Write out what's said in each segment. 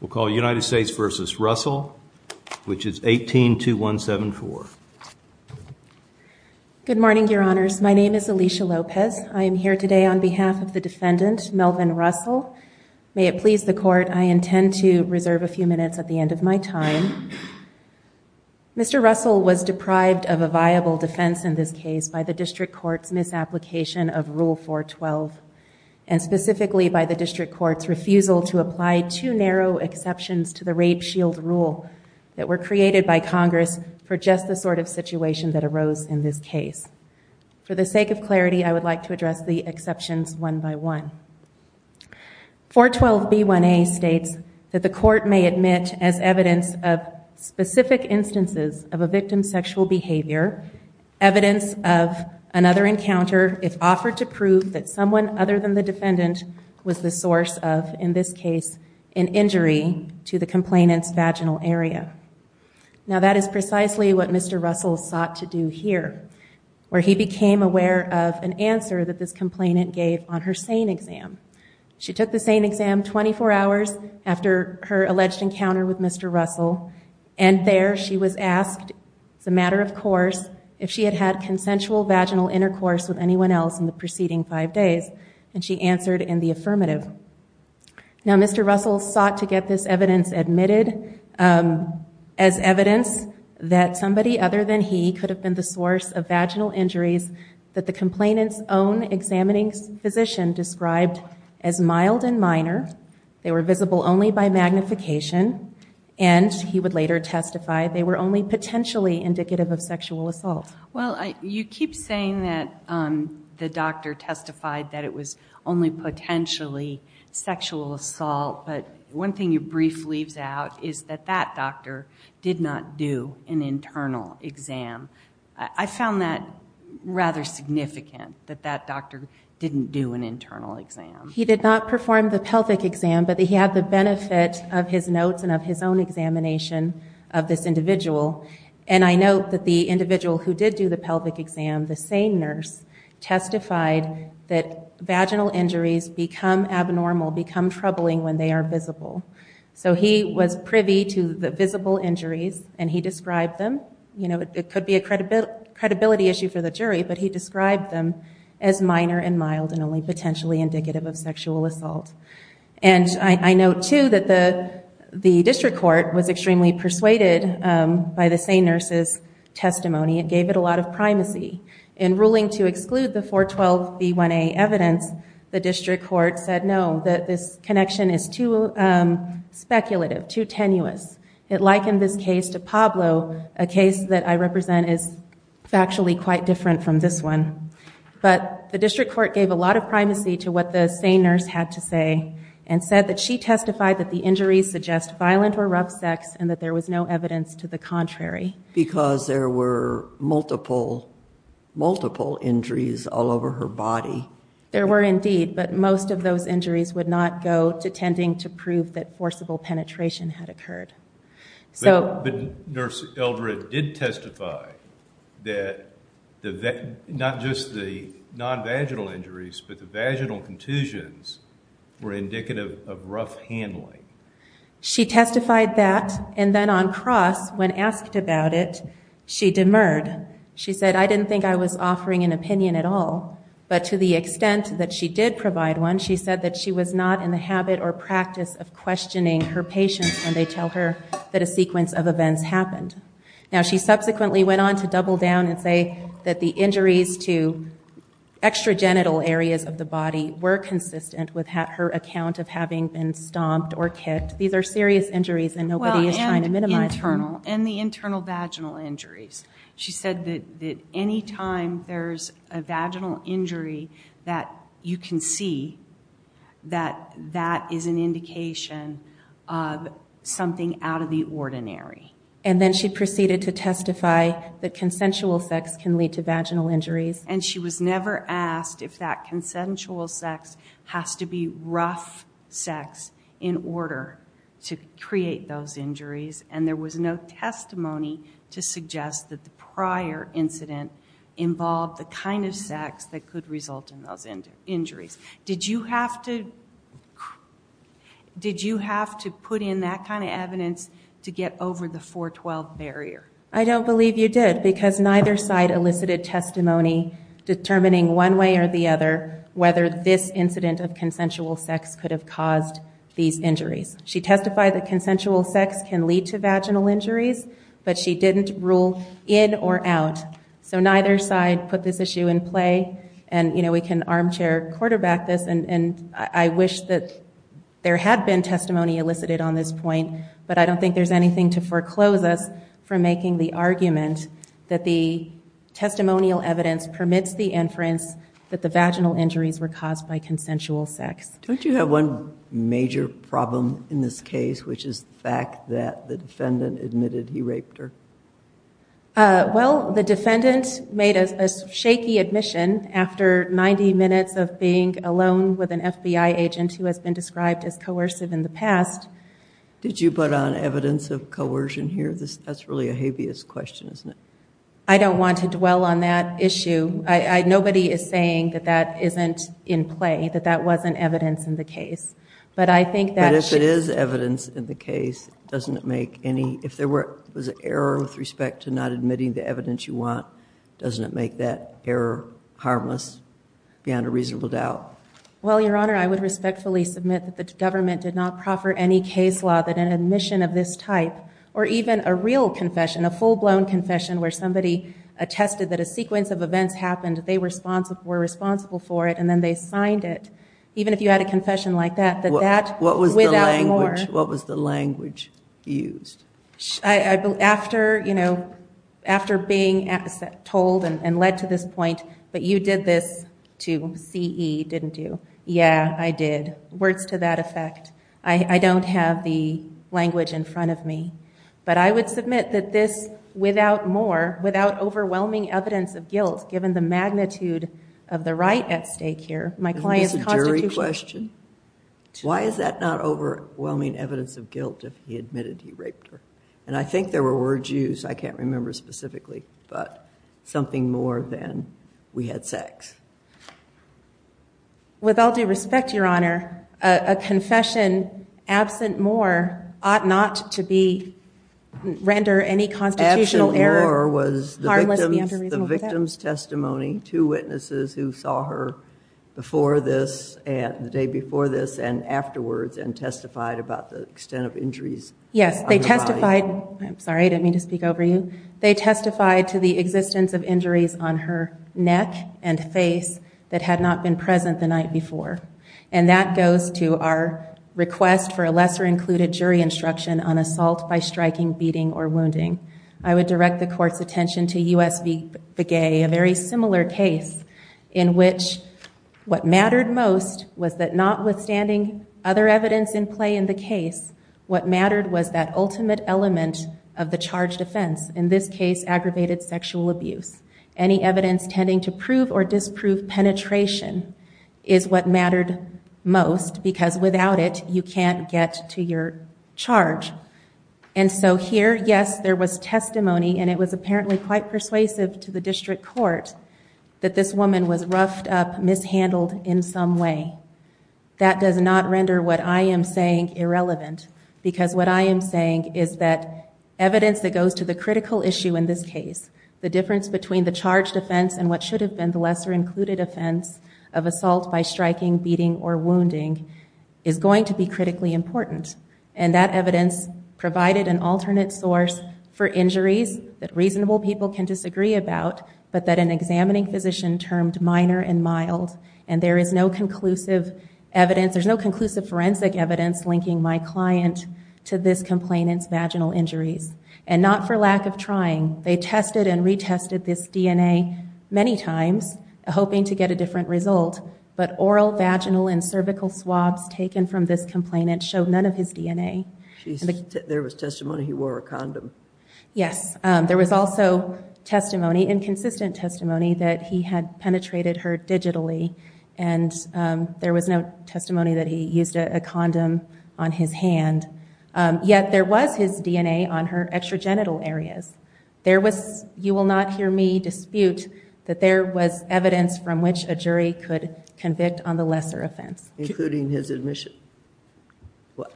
We'll call United States v. Russell, which is 18-2174. Good morning, your honors. My name is Alicia Lopez. I am here today on behalf of the defendant, Melvin Russell. May it please the court, I intend to reserve a few minutes at the end of my time. Mr. Russell was deprived of a viable defense in this case by the district court's misapplication of Rule 412, and specifically by the district court's refusal to apply two narrow exceptions to the rape shield rule that were created by Congress for just the sort of situation that arose in this case. For the sake of clarity, I would like to address the exceptions one by one. 412b1a states that the court may admit as evidence of specific instances of a victim's sexual behavior, evidence of another encounter if offered to prove that someone other than the defendant was the source of, in this case, an injury to the complainant's vaginal area. Now that is precisely what Mr. Russell sought to do here, where he became aware of an answer that this complainant gave on her SANE exam. She took the SANE exam 24 hours after her alleged encounter with Mr. Russell, and there she was asked, as a matter of course, if she had had consensual vaginal intercourse with anyone else in the preceding five days, and she answered in the affirmative. Now Mr. Russell sought to get this evidence admitted as evidence that somebody other than he could have been the source of vaginal injuries that the complainant's own examining physician described as mild and minor, they were visible only by magnification, and he would later testify they were only potentially indicative of sexual assault. Well, you keep saying that the doctor testified that it was only potentially sexual assault, but one thing you briefly leave out is that that doctor did not do an internal exam. I found that rather significant, that that doctor didn't do an internal exam. He did not perform the pelvic exam, but he had the benefit of his notes and of his own examination of this individual, and I note that the individual who did do the pelvic exam, the SANE nurse, testified that vaginal injuries become abnormal, become troubling when they are visible. So he was privy to the visible injuries, and he described them, you know, it could be a credibility issue for the jury, but he described them as minor and mild and only potentially indicative of sexual assault. And I note, too, that the district court was extremely persuaded by the SANE nurse's testimony. It gave it a lot of primacy. In ruling to exclude the 412B1A evidence, the district court said no, that this connection is too speculative, too tenuous. It likened this case to Pablo, a case that I represent as factually quite different from this one. But the district court gave a lot of primacy to what the SANE nurse had to say and said that she testified that the injuries suggest violent or rough sex and that there was no evidence to the contrary. Because there were multiple, multiple injuries all over her body. There were indeed, but most of those injuries would not go to tending to prove that forcible penetration had occurred. But nurse Eldred did testify that not just the non-vaginal injuries, but the vaginal contusions were indicative of rough handling. She testified that, and then on cross, when asked about it, she demurred. She said, I didn't think I was offering an opinion at all. But to the extent that she did provide one, she said that she was not in the habit or aware that a sequence of events happened. Now she subsequently went on to double down and say that the injuries to extra genital areas of the body were consistent with her account of having been stomped or kicked. These are serious injuries and nobody is trying to minimize them. And the internal vaginal injuries. She said that any time there's a vaginal injury that you can see, that that is an indication of something out of the ordinary. And then she proceeded to testify that consensual sex can lead to vaginal injuries. And she was never asked if that consensual sex has to be rough sex in order to create those injuries. And there was no testimony to suggest that the prior incident involved the kind of sex that could result in those injuries. Did you have to put in that kind of evidence to get over the 412 barrier? I don't believe you did, because neither side elicited testimony determining one way or the other whether this incident of consensual sex could have caused these injuries. She testified that consensual sex can lead to vaginal injuries, but she didn't rule in or out. So neither side put this issue in play. And we can armchair quarterback this. And I wish that there had been testimony elicited on this point, but I don't think there's anything to foreclose us from making the argument that the testimonial evidence permits the inference that the vaginal injuries were caused by consensual sex. Don't you have one major problem in this case, which is the fact that the defendant admitted he raped her? Well, the defendant made a shaky admission after 90 minutes of being alone with an FBI agent who has been described as coercive in the past. Did you put on evidence of coercion here? That's really a habeas question, isn't it? I don't want to dwell on that issue. Nobody is saying that that isn't in play, that that wasn't evidence in the case. But I think that should- Well, Your Honor, I would respectfully submit that the government did not proffer any case law that an admission of this type, or even a real confession, a full-blown confession where somebody attested that a sequence of events happened, they were responsible for it, and then they signed it. Even if you had a confession like that, that without more- What was the language used? After being told and led to this point, but you did this to CE, didn't you? Yeah, I did. Words to that effect. I don't have the language in front of me. But I would submit that this, without more, without overwhelming evidence of guilt, given the magnitude of the right at stake here, my client's constitution- Isn't this a jury question? Why is that not overwhelming evidence of guilt if he admitted he raped her? And I think there were words used, I can't remember specifically, but something more than, we had sex. With all due respect, Your Honor, a confession absent more ought not to be, render any constitutional error- Absent more was the victim's testimony. Two witnesses who saw her before this, the day before this, and afterwards, and testified about the extent of injuries- Yes, they testified, I'm sorry, I didn't mean to speak over you. They testified to the existence of injuries on her neck and face that had not been present the night before. And that goes to our request for a lesser-included jury instruction on assault by striking, beating, or wounding. I would direct the court's attention to U.S. v. Begay, a very similar case in which what mattered most was that notwithstanding other evidence in play in the case, what mattered was that ultimate element of the charge defense, in this case, aggravated sexual abuse. Any evidence tending to prove or disprove penetration is what mattered most because without it, you can't get to your charge. And so here, yes, there was testimony and it was apparently quite persuasive to the district court that this woman was roughed up, mishandled in some way. That does not render what I am saying irrelevant because what I am saying is that evidence that goes to the critical issue in this case, the difference between the charge defense and what should have been the lesser-included offense of assault by striking, beating, or wounding is going to be critically important. And that evidence provided an alternate source for injuries that reasonable people can disagree about but that an examining physician termed minor and mild. And there is no conclusive evidence, there's no conclusive forensic evidence linking my client to this complainant's vaginal injuries. And not for lack of trying, they tested and retested this DNA many times, hoping to get a different result, but oral, vaginal, and cervical swabs taken from this complainant showed none of his DNA. There was testimony he wore a condom. Yes. There was also testimony, inconsistent testimony, that he had penetrated her digitally and there was no testimony that he used a condom on his hand. Yet there was his DNA on her extragenital areas. There was, you will not hear me dispute, that there was evidence from which a jury could convict on the lesser offense. Including his admission.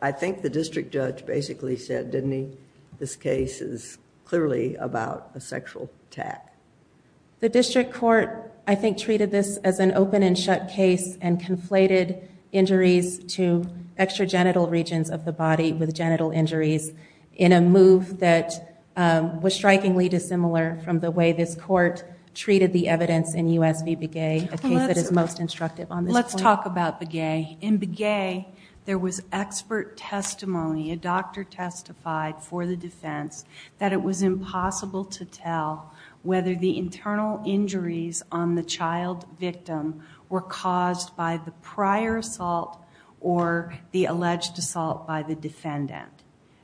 I think the district judge basically said, didn't he, this case is clearly about a sexual attack. The district court, I think, treated this as an open and shut case and conflated injuries to extragenital regions of the body with genital injuries in a move that was strikingly dissimilar from the way this court treated the evidence in U.S. v. Begay, a case that is most instructive on this point. Let's talk about Begay. In Begay, there was expert testimony, a doctor testified for the defense, that it was impossible to tell whether the internal injuries on the child victim were caused by the prior assault or the alleged assault by the defendant.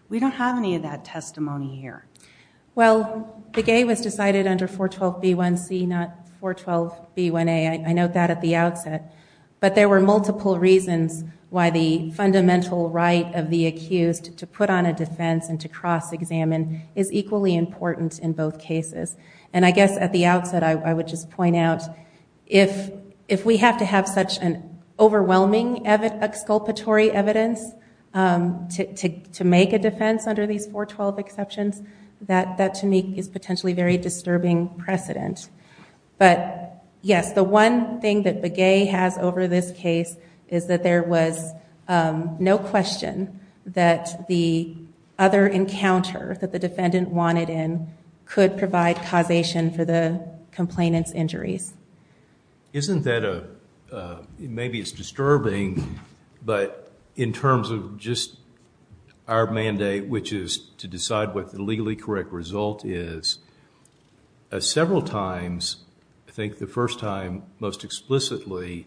We don't have any of that testimony here. Well, Begay was decided under 412B1C, not 412B1A. I note that at the outset. But there were multiple reasons why the fundamental right of the accused to put on a defense and to cross-examine is equally important in both cases. And I guess at the outset, I would just point out, if we have to have such an overwhelming exculpatory evidence to make a defense under these 412 exceptions, that to me is potentially very disturbing precedent. But yes, the one thing that Begay has over this case is that there was no question that the other encounter that the defendant wanted in could provide causation for the complainant's injuries. Isn't that a, maybe it's disturbing, but in terms of just our mandate, which is to decide what the legally correct result is, several times, I think the first time most explicitly,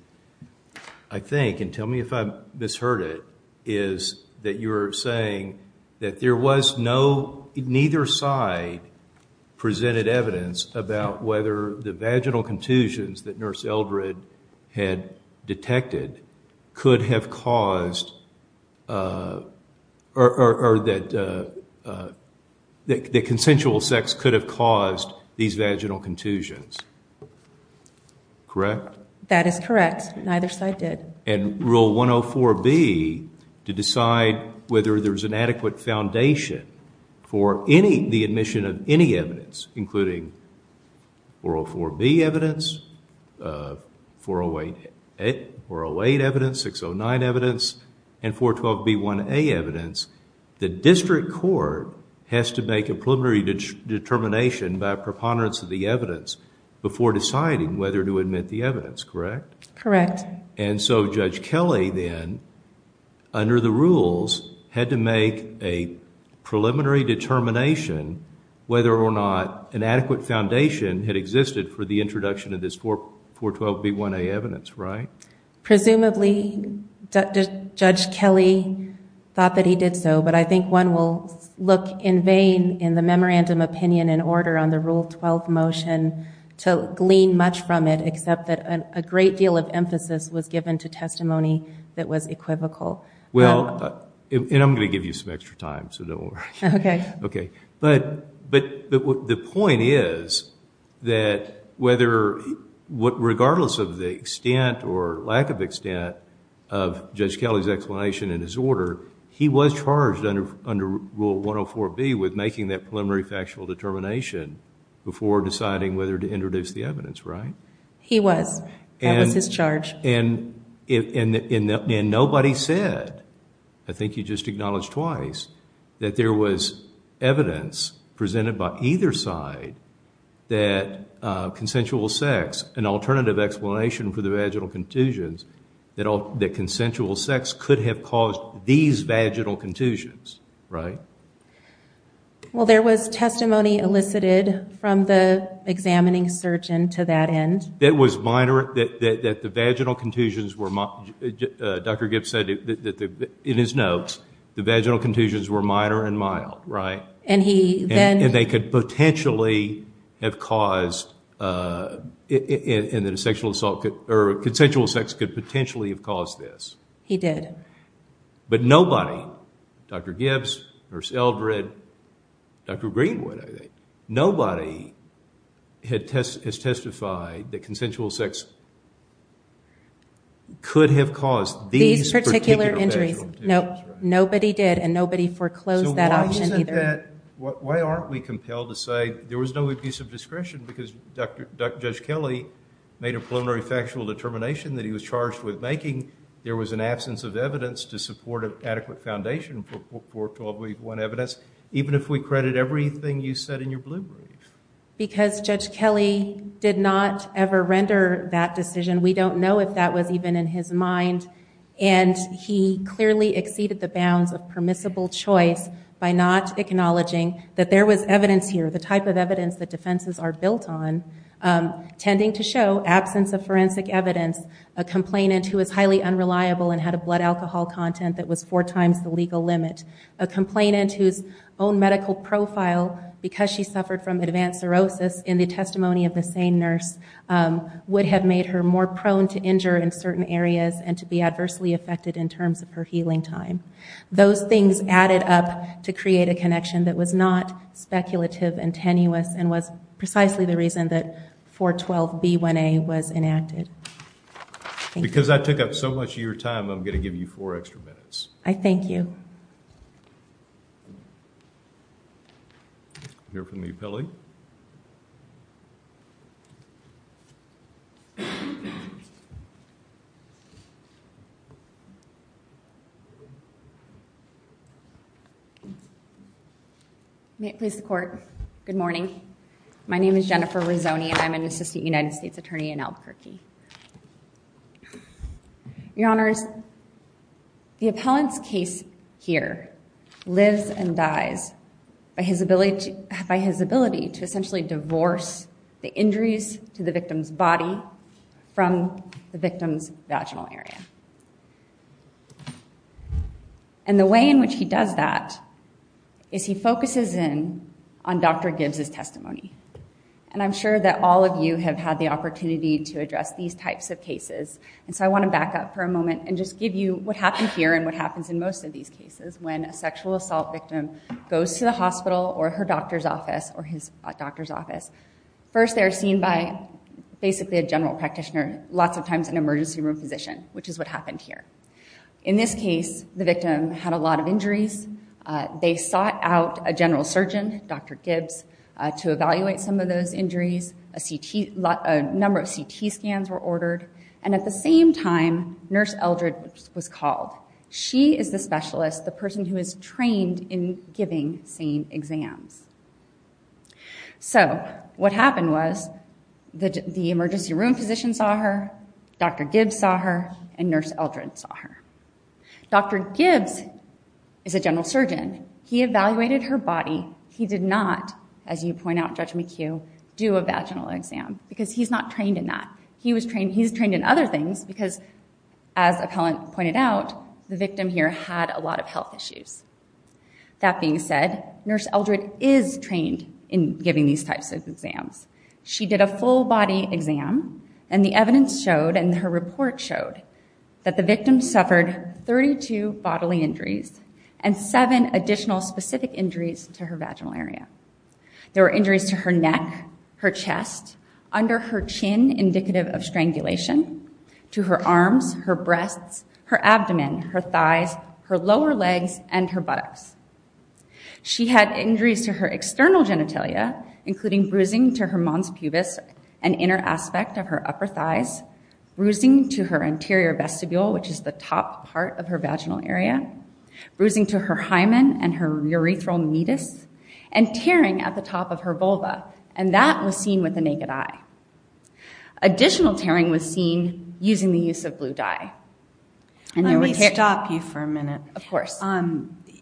I think, and tell me if I misheard it, is that you're saying that there was no, neither side presented evidence about whether the vaginal contusions that Nurse Eldred had detected could have caused, or that consensual sex could have caused these vaginal contusions. Correct? That is correct. Neither side did. And Rule 104B, to decide whether there's an adequate foundation for any, the admission of any evidence, including 404B evidence, 408 evidence, 609 evidence, and 412B1A evidence, the district court has to make a preliminary determination by preponderance of the evidence before deciding whether to admit the evidence, correct? Correct. And so Judge Kelly then, under the rules, had to make a preliminary determination whether or not an adequate foundation had existed for the introduction of this 412B1A evidence, right? Presumably, Judge Kelly thought that he did so, but I think one will look in vain in the memorandum opinion and order on the Rule 12 motion to glean much from it, except that a great deal of emphasis was given to testimony that was equivocal. Well, and I'm going to give you some extra time, so don't worry. Okay. Okay. But the point is that whether, regardless of the extent or lack of extent of Judge Kelly's explanation in his order, he was charged under Rule 104B with making that preliminary factual determination before deciding whether to introduce the evidence, right? He was. That was his charge. And nobody said, I think you just acknowledged twice, that there was evidence presented by either side that consensual sex, an alternative explanation for the vaginal contusions, that consensual sex could have caused these vaginal contusions, right? Well, there was testimony elicited from the examining surgeon to that end. That was minor, that the vaginal contusions were, Dr. Gibbs said in his notes, the vaginal contusions were minor and mild, right? And he then- And they could potentially have caused, and that a sexual assault, or consensual sex could potentially have caused this. He did. But nobody, Dr. Gibbs, Nurse Eldred, Dr. Greenwood, I think, nobody has testified that consensual sex could have caused these particular vaginal contusions, right? These particular injuries, nope. Nobody did, and nobody foreclosed that option either. So why isn't that, why aren't we compelled to say there was no abuse of discretion because Judge Kelly made a preliminary factual determination that he was charged with making, there was an absence of evidence to support an adequate foundation for 12-week-one evidence, even if we credit everything you said in your blue briefs? Because Judge Kelly did not ever render that decision. We don't know if that was even in his mind, and he clearly exceeded the bounds of permissible choice by not acknowledging that there was evidence here, the type of evidence that defenses are built on, tending to show absence of forensic evidence, a complainant who is highly unreliable and had a blood alcohol content that was four times the legal limit, a complainant whose own medical profile, because she suffered from advanced cirrhosis in the testimony of the same nurse, would have made her more prone to injure in certain areas and to be adversely affected in terms of her healing time. Those things added up to create a connection that was not speculative and tenuous and was precisely the reason that 412B1A was enacted. Thank you. Because I took up so much of your time, I'm going to give you four extra minutes. I thank you. We'll hear from the appellee. May it please the Court. Good morning. My name is Jennifer Rizzoni, and I'm an Assistant United States Attorney in Albuquerque. Your Honors, the appellant's case here lives and dies by his ability to essentially divorce the injuries to the victim's body from the victim's vaginal area. And the way in which he does that is he focuses in on Dr. Gibbs' testimony. And I'm sure that all of you have had the opportunity to address these types of cases, and so I want to back up for a moment and just give you what happened here and what happens in most of these cases when a sexual assault victim goes to the hospital or her doctor's office or his doctor's office. First they're seen by basically a general practitioner, lots of times an emergency room physician, which is what happened here. In this case, the victim had a lot of injuries. They sought out a general surgeon, Dr. Gibbs, to evaluate some of those injuries. A number of CT scans were ordered, and at the same time, Nurse Eldred was called. She is the specialist, the person who is trained in giving SANE exams. So what happened was the emergency room physician saw her, Dr. Gibbs saw her, and Nurse Eldred saw her. Dr. Gibbs is a general surgeon. He evaluated her body. He did not, as you point out, Judge McHugh, do a vaginal exam because he's not trained in that. He's trained in other things because, as Appellant pointed out, the victim here had a lot of health issues. That being said, Nurse Eldred is trained in giving these types of exams. She did a full body exam, and the evidence showed, and her report showed, that the victim suffered 32 bodily injuries and seven additional specific injuries to her vaginal area. There were injuries to her neck, her chest, under her chin, indicative of strangulation, to her arms, her breasts, her abdomen, her thighs, her lower legs, and her buttocks. She had injuries to her external genitalia, including bruising to her mons pubis, an inner top part of her vaginal area, bruising to her hymen and her urethral meatus, and tearing at the top of her vulva, and that was seen with the naked eye. Additional tearing was seen using the use of blue dye. And there were tears- Let me stop you for a minute. Of course.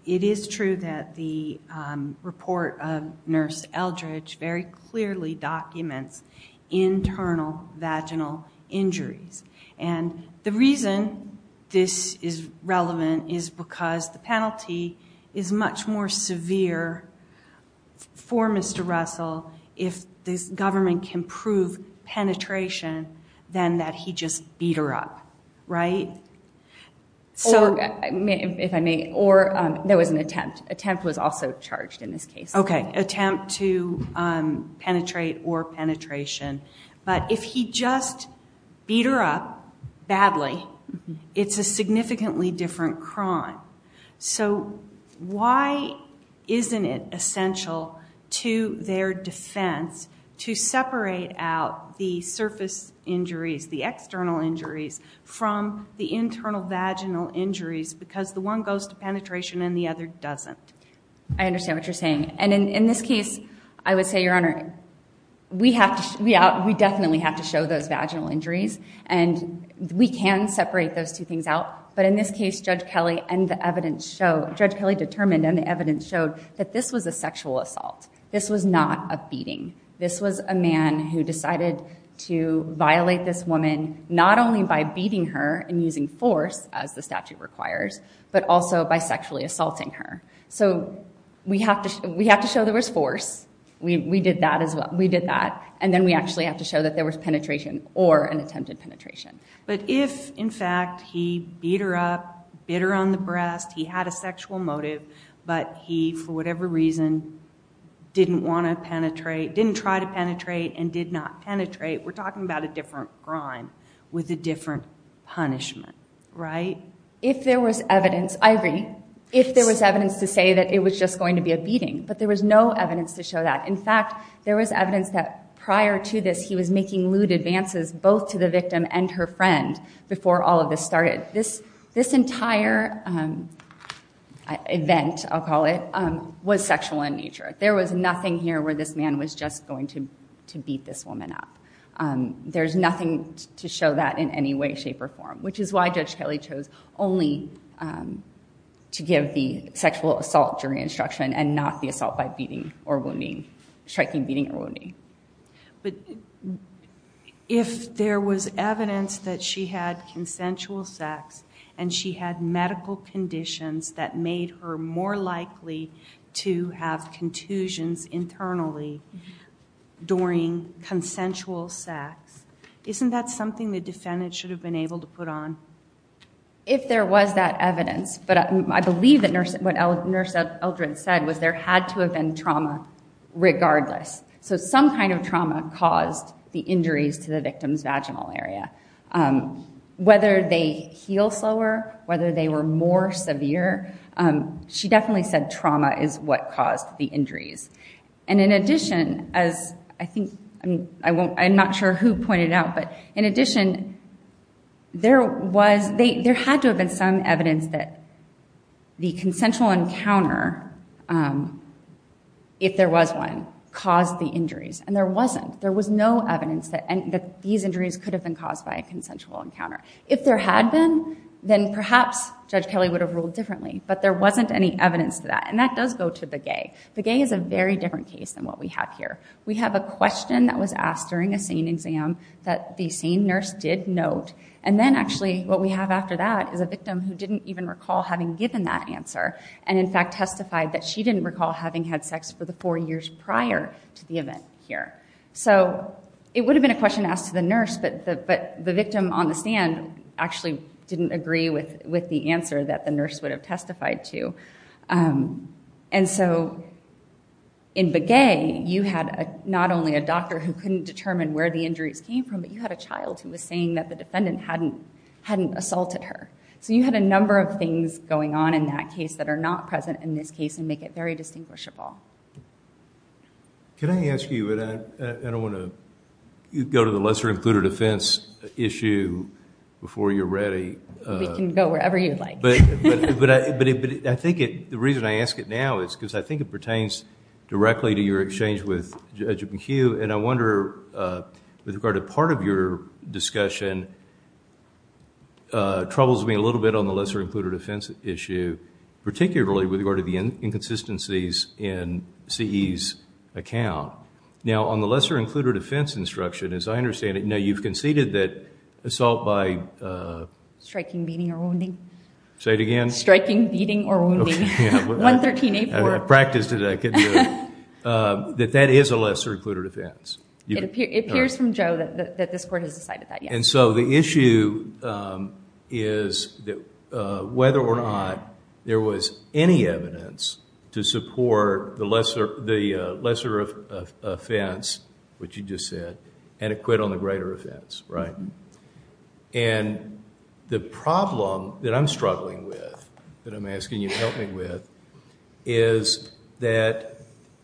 It is true that the report of Nurse Eldred very clearly documents internal vaginal injuries. And the reason this is relevant is because the penalty is much more severe for Mr. Russell if this government can prove penetration than that he just beat her up, right? So- If I may, or there was an attempt. Attempt was also charged in this case. Okay. Attempt to penetrate or penetration. But if he just beat her up badly, it's a significantly different crime. So why isn't it essential to their defense to separate out the surface injuries, the external injuries, from the internal vaginal injuries because the one goes to penetration and the other doesn't? I understand what you're saying. And in this case, I would say, Your Honor, we definitely have to show those vaginal injuries and we can separate those two things out. But in this case, Judge Kelly determined and the evidence showed that this was a sexual assault. This was not a beating. This was a man who decided to violate this woman not only by beating her and using force, as the statute requires, but also by sexually assaulting her. So we have to show there was force. We did that as well. We did that. And then we actually have to show that there was penetration or an attempted penetration. But if, in fact, he beat her up, bit her on the breast, he had a sexual motive, but he, for whatever reason, didn't want to penetrate, didn't try to penetrate, and did not penetrate, we're talking about a different crime with a different punishment, right? If there was evidence, I agree. If there was evidence to say that it was just going to be a beating, but there was no evidence to show that. In fact, there was evidence that prior to this, he was making lewd advances both to the victim and her friend before all of this started. This entire event, I'll call it, was sexual in nature. There was nothing here where this man was just going to beat this woman up. There's nothing to show that in any way, shape, or form, which is why Judge Kelly chose only to give the sexual assault during instruction and not the assault by beating or wounding, striking, beating, or wounding. But if there was evidence that she had consensual sex and she had medical conditions that made her more likely to have contusions internally during consensual sex, isn't that something the defendant should have been able to put on? If there was that evidence, but I believe that what Nurse Eldred said was there had to have been trauma regardless. So some kind of trauma caused the injuries to the victim's vaginal area. Whether they heal slower, whether they were more severe, she definitely said trauma is what caused the injuries. And in addition, as I think, I'm not sure who pointed out, but in addition, there had to have been some evidence that the consensual encounter, if there was one, caused the injuries. And there wasn't. There was no evidence that these injuries could have been caused by a consensual encounter. If there had been, then perhaps Judge Kelly would have ruled differently. But there wasn't any evidence to that. And that does go to the gay. The gay is a very different case than what we have here. We have a question that was asked during a SANE exam that the SANE nurse did note. And then actually what we have after that is a victim who didn't even recall having given that answer, and in fact testified that she didn't recall having had sex for the four years prior to the event here. So it would have been a question asked to the nurse, but the victim on the stand actually didn't agree with the answer that the nurse would have testified to. And so in the gay, you had not only a doctor who couldn't determine where the injuries came from, but you had a child who was saying that the defendant hadn't assaulted her. So you had a number of things going on in that case that are not present in this case and make it very distinguishable. Can I ask you, and I don't want to go to the lesser included offense issue before you're ready. We can go wherever you'd like. But I think the reason I ask it now is because I think it pertains directly to your exchange with Judge McHugh. And I wonder with regard to part of your discussion, troubles me a little bit on the lesser included offense issue, particularly with regard to the inconsistencies in CE's account. Now on the lesser included offense instruction, as I understand it, now you've conceded that Say it again. Striking, beating, or wounding. 113A4. I practiced it, I could do it. That that is a lesser included offense. It appears from Joe that this court has decided that, yes. And so the issue is whether or not there was any evidence to support the lesser offense, which you just said, and it quit on the greater offense, right? And the problem that I'm struggling with, that I'm asking you to help me with, is that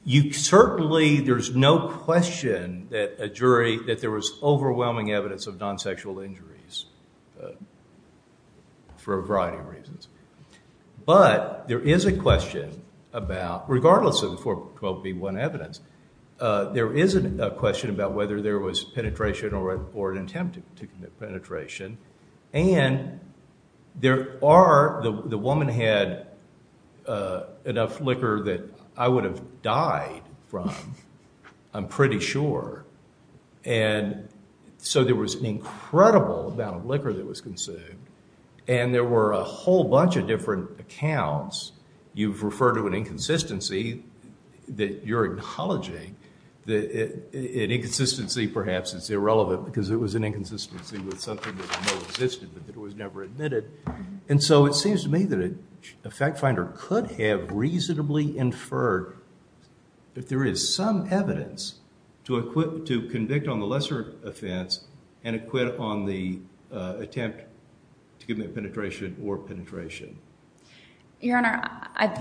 you certainly, there's no question that a jury, that there was overwhelming evidence of non-sexual injuries for a variety of reasons. But there is a question about, regardless of the 412B1 evidence, there is a question about whether there was penetration or an attempt to commit penetration. And there are, the woman had enough liquor that I would have died from, I'm pretty sure. And so there was an incredible amount of liquor that was consumed. And there were a whole bunch of different accounts, you've referred to an inconsistency that you're acknowledging, that an inconsistency, perhaps, is irrelevant, because it was an inconsistency with something that no existed, but that was never admitted. And so it seems to me that a fact finder could have reasonably inferred that there is some evidence to equip, to convict on the lesser offense and acquit on the attempt to commit penetration or penetration. Your Honor,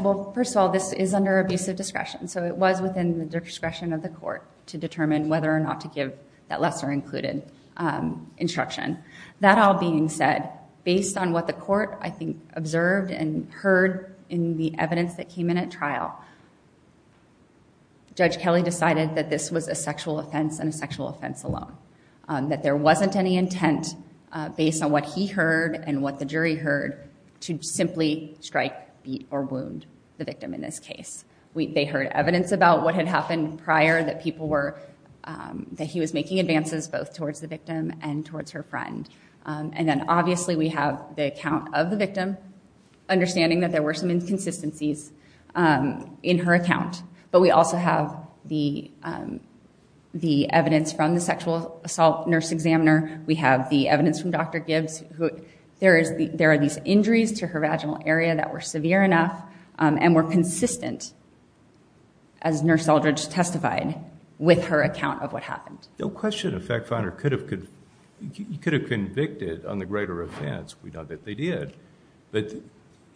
well, first of all, this is under abusive discretion. So it was within the discretion of the court to determine whether or not to give that lesser included instruction. That all being said, based on what the court, I think, observed and heard in the evidence that came in at trial, Judge Kelly decided that this was a sexual offense and a sexual offense alone. That there wasn't any intent, based on what he heard and what the jury heard, to simply strike, beat, or wound the victim in this case. They heard evidence about what had happened prior, that people were, that he was making advances both towards the victim and towards her friend. And then, obviously, we have the account of the victim, understanding that there were some inconsistencies in her account. But we also have the evidence from the sexual assault nurse examiner. We have the evidence from Dr. Gibbs. There are these injuries to her vaginal area that were severe enough and were consistent, as Nurse Eldridge testified, with her account of what happened. No question a fact finder could have convicted on the greater offense. We know that they did. But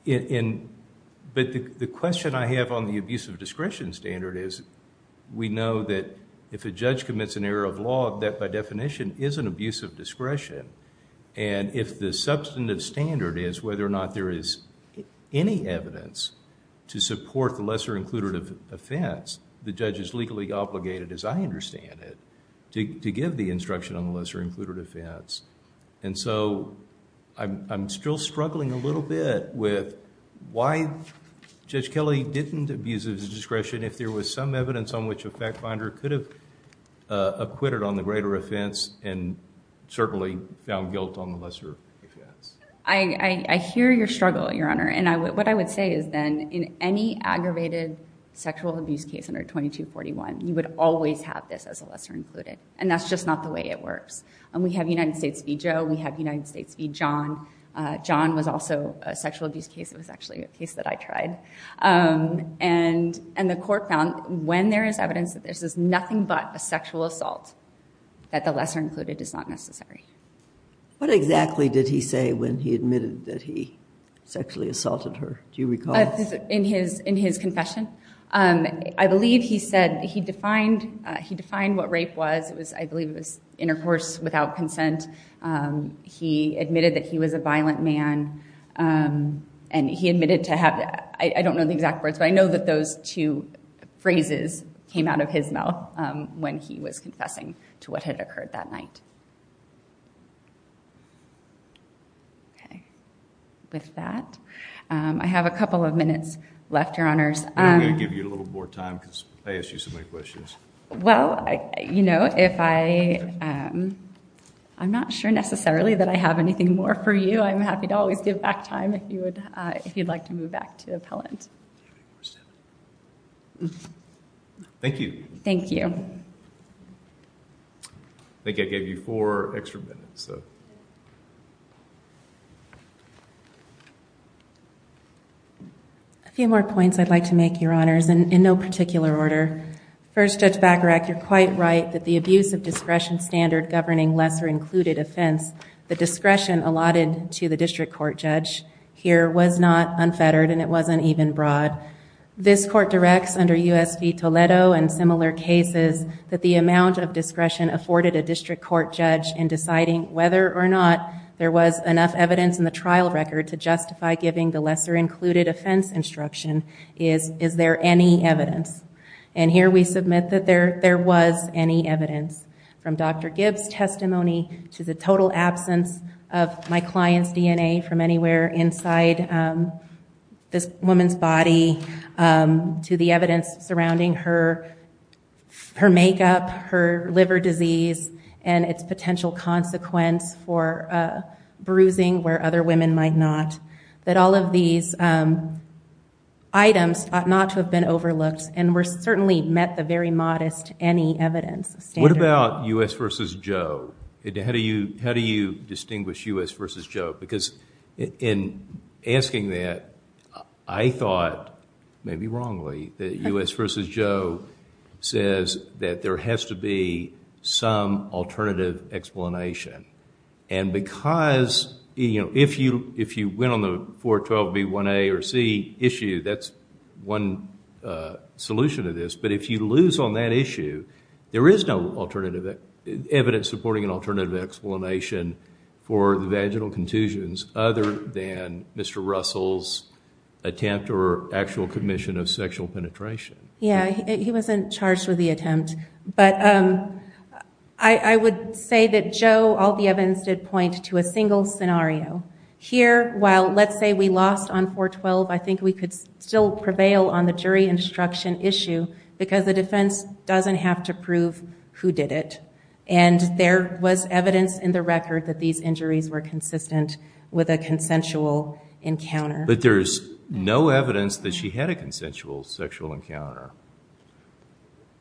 the question I have on the abuse of discretion standard is, we know that if a judge commits an error of law, that, by definition, is an abuse of discretion. And if the substantive standard is whether or not there is any evidence to support the lesser included offense, the judge is legally obligated, as I understand it, to give the instruction on the lesser included offense. And so I'm still struggling a little bit with why Judge Kelly didn't abuse of discretion if there was some evidence on which a fact finder could have acquitted on the greater offense and certainly found guilt on the lesser offense. I hear your struggle, Your Honor. And what I would say is then, in any aggravated sexual abuse case under 2241, you would always have this as a lesser included. And that's just not the way it works. We have United States v. Joe. We have United States v. John. John was also a sexual abuse case. It was actually a case that I tried. And the court found, when there is evidence that this is nothing but a sexual assault, that the lesser included is not necessary. What exactly did he say when he admitted that he sexually assaulted her? Do you recall? In his confession? I believe he said he defined what rape was. I believe it was intercourse without consent. He admitted that he was a violent man. And he admitted to have, I don't know the exact words, but I know that those two phrases came out of his mouth when he was confessing to what had occurred that night. With that, I have a couple of minutes left, Your Honors. I'm going to give you a little more time because I asked you so many questions. Well, I'm not sure necessarily that I have anything more for you. I'm happy to always give back time if you'd like to move back to appellant. Thank you. Thank you. I think I gave you four extra minutes. A few more points I'd like to make, Your Honors, in no particular order. First, Judge Bacharach, you're quite right that the abuse of discretion standard governing lesser included offense, the discretion allotted to the district court judge here was not unfettered and it wasn't even broad. This court directs under US v Toledo and similar cases that the amount of discretion afforded a district court judge in deciding whether or not there was enough evidence in the trial record to justify giving the lesser included offense instruction is, is there any evidence? And here we submit that there was any evidence. From Dr. Gibbs' testimony to the total absence of my client's DNA from anywhere inside this woman's body to the evidence surrounding her makeup, her liver disease, and its potential consequence for bruising where other women might not. That all of these items ought not to have been overlooked and were certainly met the very modest any evidence standard. What about US versus Joe? How do you, how do you distinguish US versus Joe? Because in asking that, I thought, maybe wrongly, that US versus Joe says that there has to be some alternative explanation. And because, you know, if you, if you went on the 412B1A or C issue, that's one solution to this. But if you lose on that issue, there is no alternative evidence supporting an alternative explanation for the vaginal contusions other than Mr. Russell's attempt or actual commission of sexual penetration. Yeah, he wasn't charged with the attempt. But I would say that Joe, all the evidence did point to a single scenario. Here, while let's say we lost on 412, I think we could still prevail on the jury instruction issue because the defense doesn't have to prove who did it. And there was evidence in the record that these injuries were consistent with a consensual encounter. But there's no evidence that she had a consensual sexual encounter.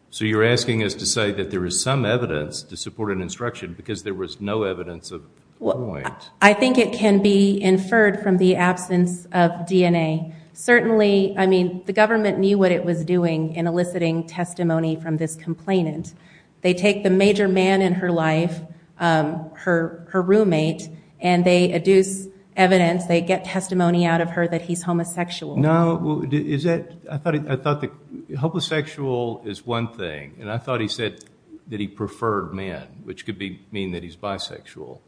So you're asking us to say that there is some evidence to support an instruction because there was no evidence of point? I think it can be inferred from the absence of DNA. Certainly, I mean, the government knew what it was doing in eliciting testimony from this complainant. They take the major man in her life, her roommate, and they adduce evidence. They get testimony out of her that he's homosexual. No, I thought that homosexual is one thing. And I thought he said that he preferred men, which could mean that he's bisexual.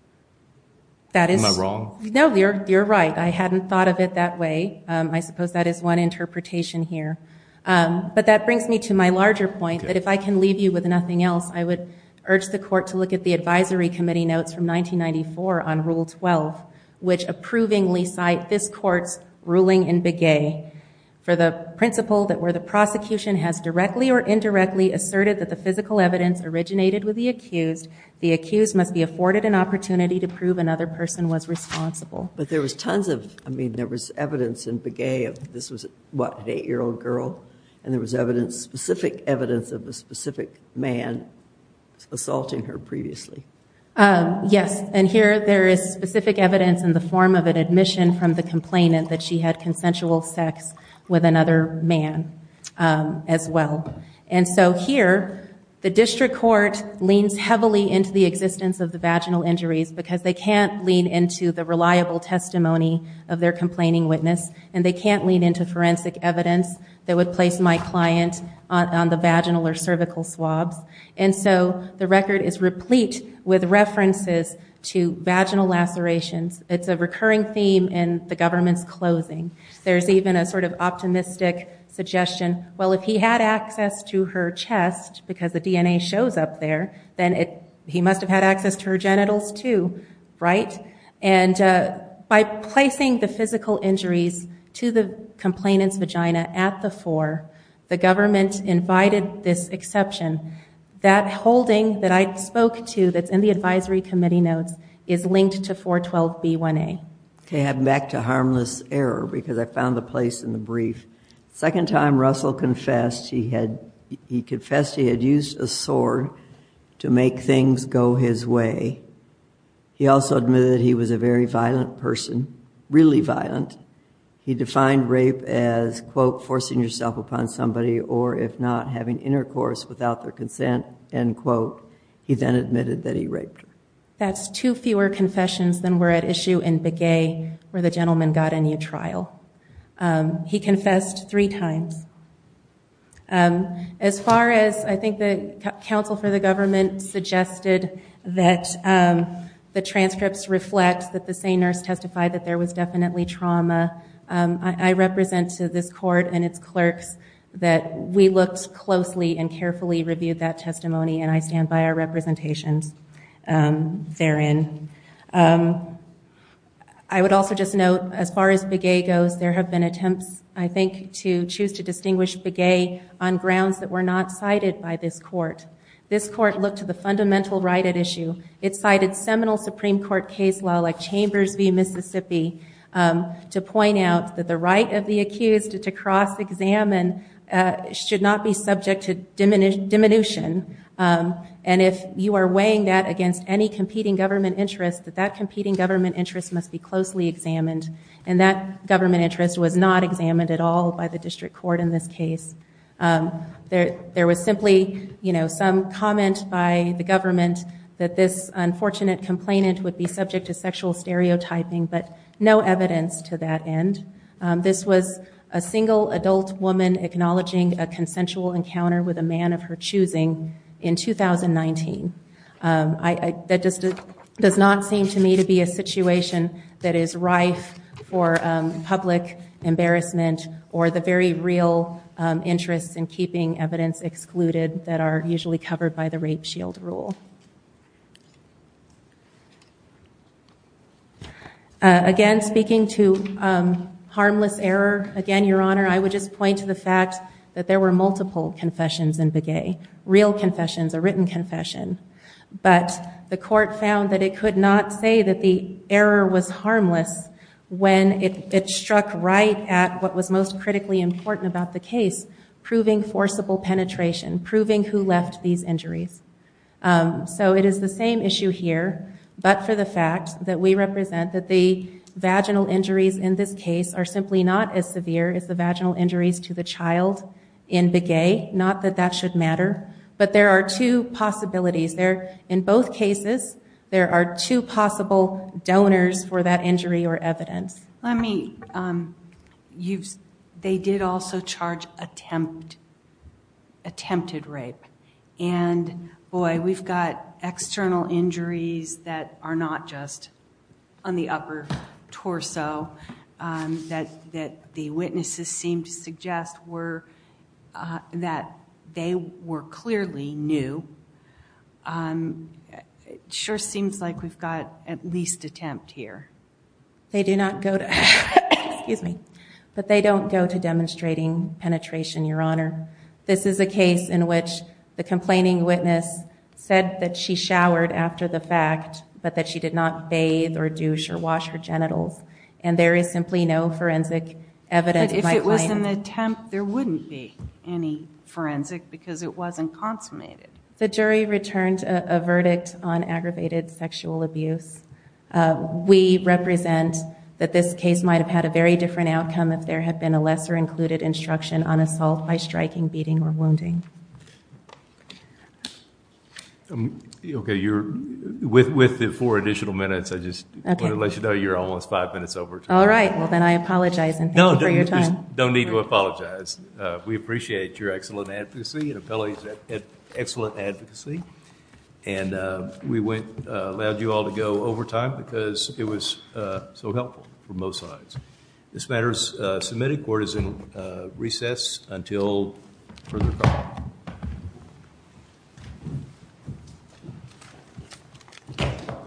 Am I wrong? No, you're right. I hadn't thought of it that way. I suppose that is one interpretation here. But that brings me to my larger point that if I can leave you with nothing else, I would urge the court to look at the advisory committee notes from 1994 on Rule 12, which approvingly cite this court's ruling in Begay for the principle that where the prosecution has directly or indirectly asserted that the physical evidence originated with the accused, the accused must be afforded an opportunity to prove another person was responsible. But there was tons of, I mean, there was evidence in Begay. This was, what, an eight-year-old girl? And there was evidence, specific evidence of a specific man assaulting her previously. Yes, and here there is specific evidence in the form of an admission from the complainant that she had consensual sex with another man as well. And so here, the district court leans heavily into the existence of the vaginal injuries because they can't lean into the reliable testimony of their complaining witness, and they can't lean into forensic evidence that would place my client on the vaginal or cervical swabs. And so the record is replete with references to vaginal lacerations. It's a recurring theme in the government's closing. There's even a sort of optimistic suggestion, well, if he had access to her chest because the DNA shows up there, then he must have had access to her genitals too, right? And by placing the physical injuries to the complainant's vagina at the fore, the government invited this exception. That holding that I spoke to that's in the advisory committee notes is linked to 412B1A. OK, heading back to harmless error because I found the place in the brief. Second time Russell confessed, he confessed he had used a sword to make things go his way. He also admitted that he was a very violent person, really violent. He defined rape as, quote, forcing yourself upon somebody, or if not, having intercourse without their consent, end quote. He then admitted that he raped her. That's two fewer confessions than were at issue in Begay, where the gentleman got a new trial. He confessed three times. As far as I think the counsel for the government suggested that the transcripts reflect that the same nurse testified that there was definitely trauma, I represent to this court and its clerks that we looked closely and carefully reviewed that testimony, and I stand by our representations therein. I would also just note, as far as Begay goes, there have been attempts, I think, to choose to distinguish Begay on grounds that were not cited by this court. This court looked to the fundamental right at issue. It cited seminal Supreme Court case law, like Chambers v. Mississippi, to point out that the right of the accused to cross-examine should not be subject to diminution. And if you are weighing that against any competing government interest, that that competing government interest must be closely examined. And that government interest was not examined at all by the district court in this case. There was simply some comment by the government that this unfortunate complainant would be subject to sexual stereotyping, but no evidence to that end. This was a single adult woman acknowledging a consensual encounter with a man of her choosing in 2019. That just does not seem to me to be a situation that is rife for public embarrassment or the very real interests in keeping evidence excluded that are usually covered by the rape shield rule. Again, speaking to harmless error, again, Your Honor, I would just point to the fact that there were multiple confessions in Begay. Real confessions, a written confession. But the court found that it could not say that the error was harmless when it struck right at what was most critically important about the case, proving forcible penetration, proving who left these injuries. So it is the same issue here, but for the fact that we represent that the vaginal injuries in this case are simply not as severe as the vaginal injuries to the child in Begay. Not that that should matter. But there are two possibilities. There, in both cases, there are two possible donors for that injury or evidence. Let me, you've, they did also charge attempt, attempted rape. And, boy, we've got external injuries that are not just on the upper torso that the witnesses seem to suggest were, that they were clearly new. It sure seems like we've got at least attempt here. They do not go to, excuse me, but they don't go to demonstrating penetration, Your Honor. This is a case in which the complaining witness said that she showered after the fact, but that she did not bathe or douche or wash her genitals. And there is simply no forensic evidence. But if it was an attempt, there wouldn't be any forensic because it wasn't consummated. The jury returned a verdict on aggravated sexual abuse. We represent that this case might have had a very different outcome if there had been a lesser included instruction on assault by striking, beating, or wounding. Okay, you're, with the four additional minutes, I just wanted to let you know you're almost five minutes over time. All right, well then I apologize and thank you for your time. No, you don't need to apologize. We appreciate your excellent advocacy and appellee's excellent advocacy. And we went, allowed you all to go over time because it was so helpful for both sides. This matter's submitted, court is in recess until further call.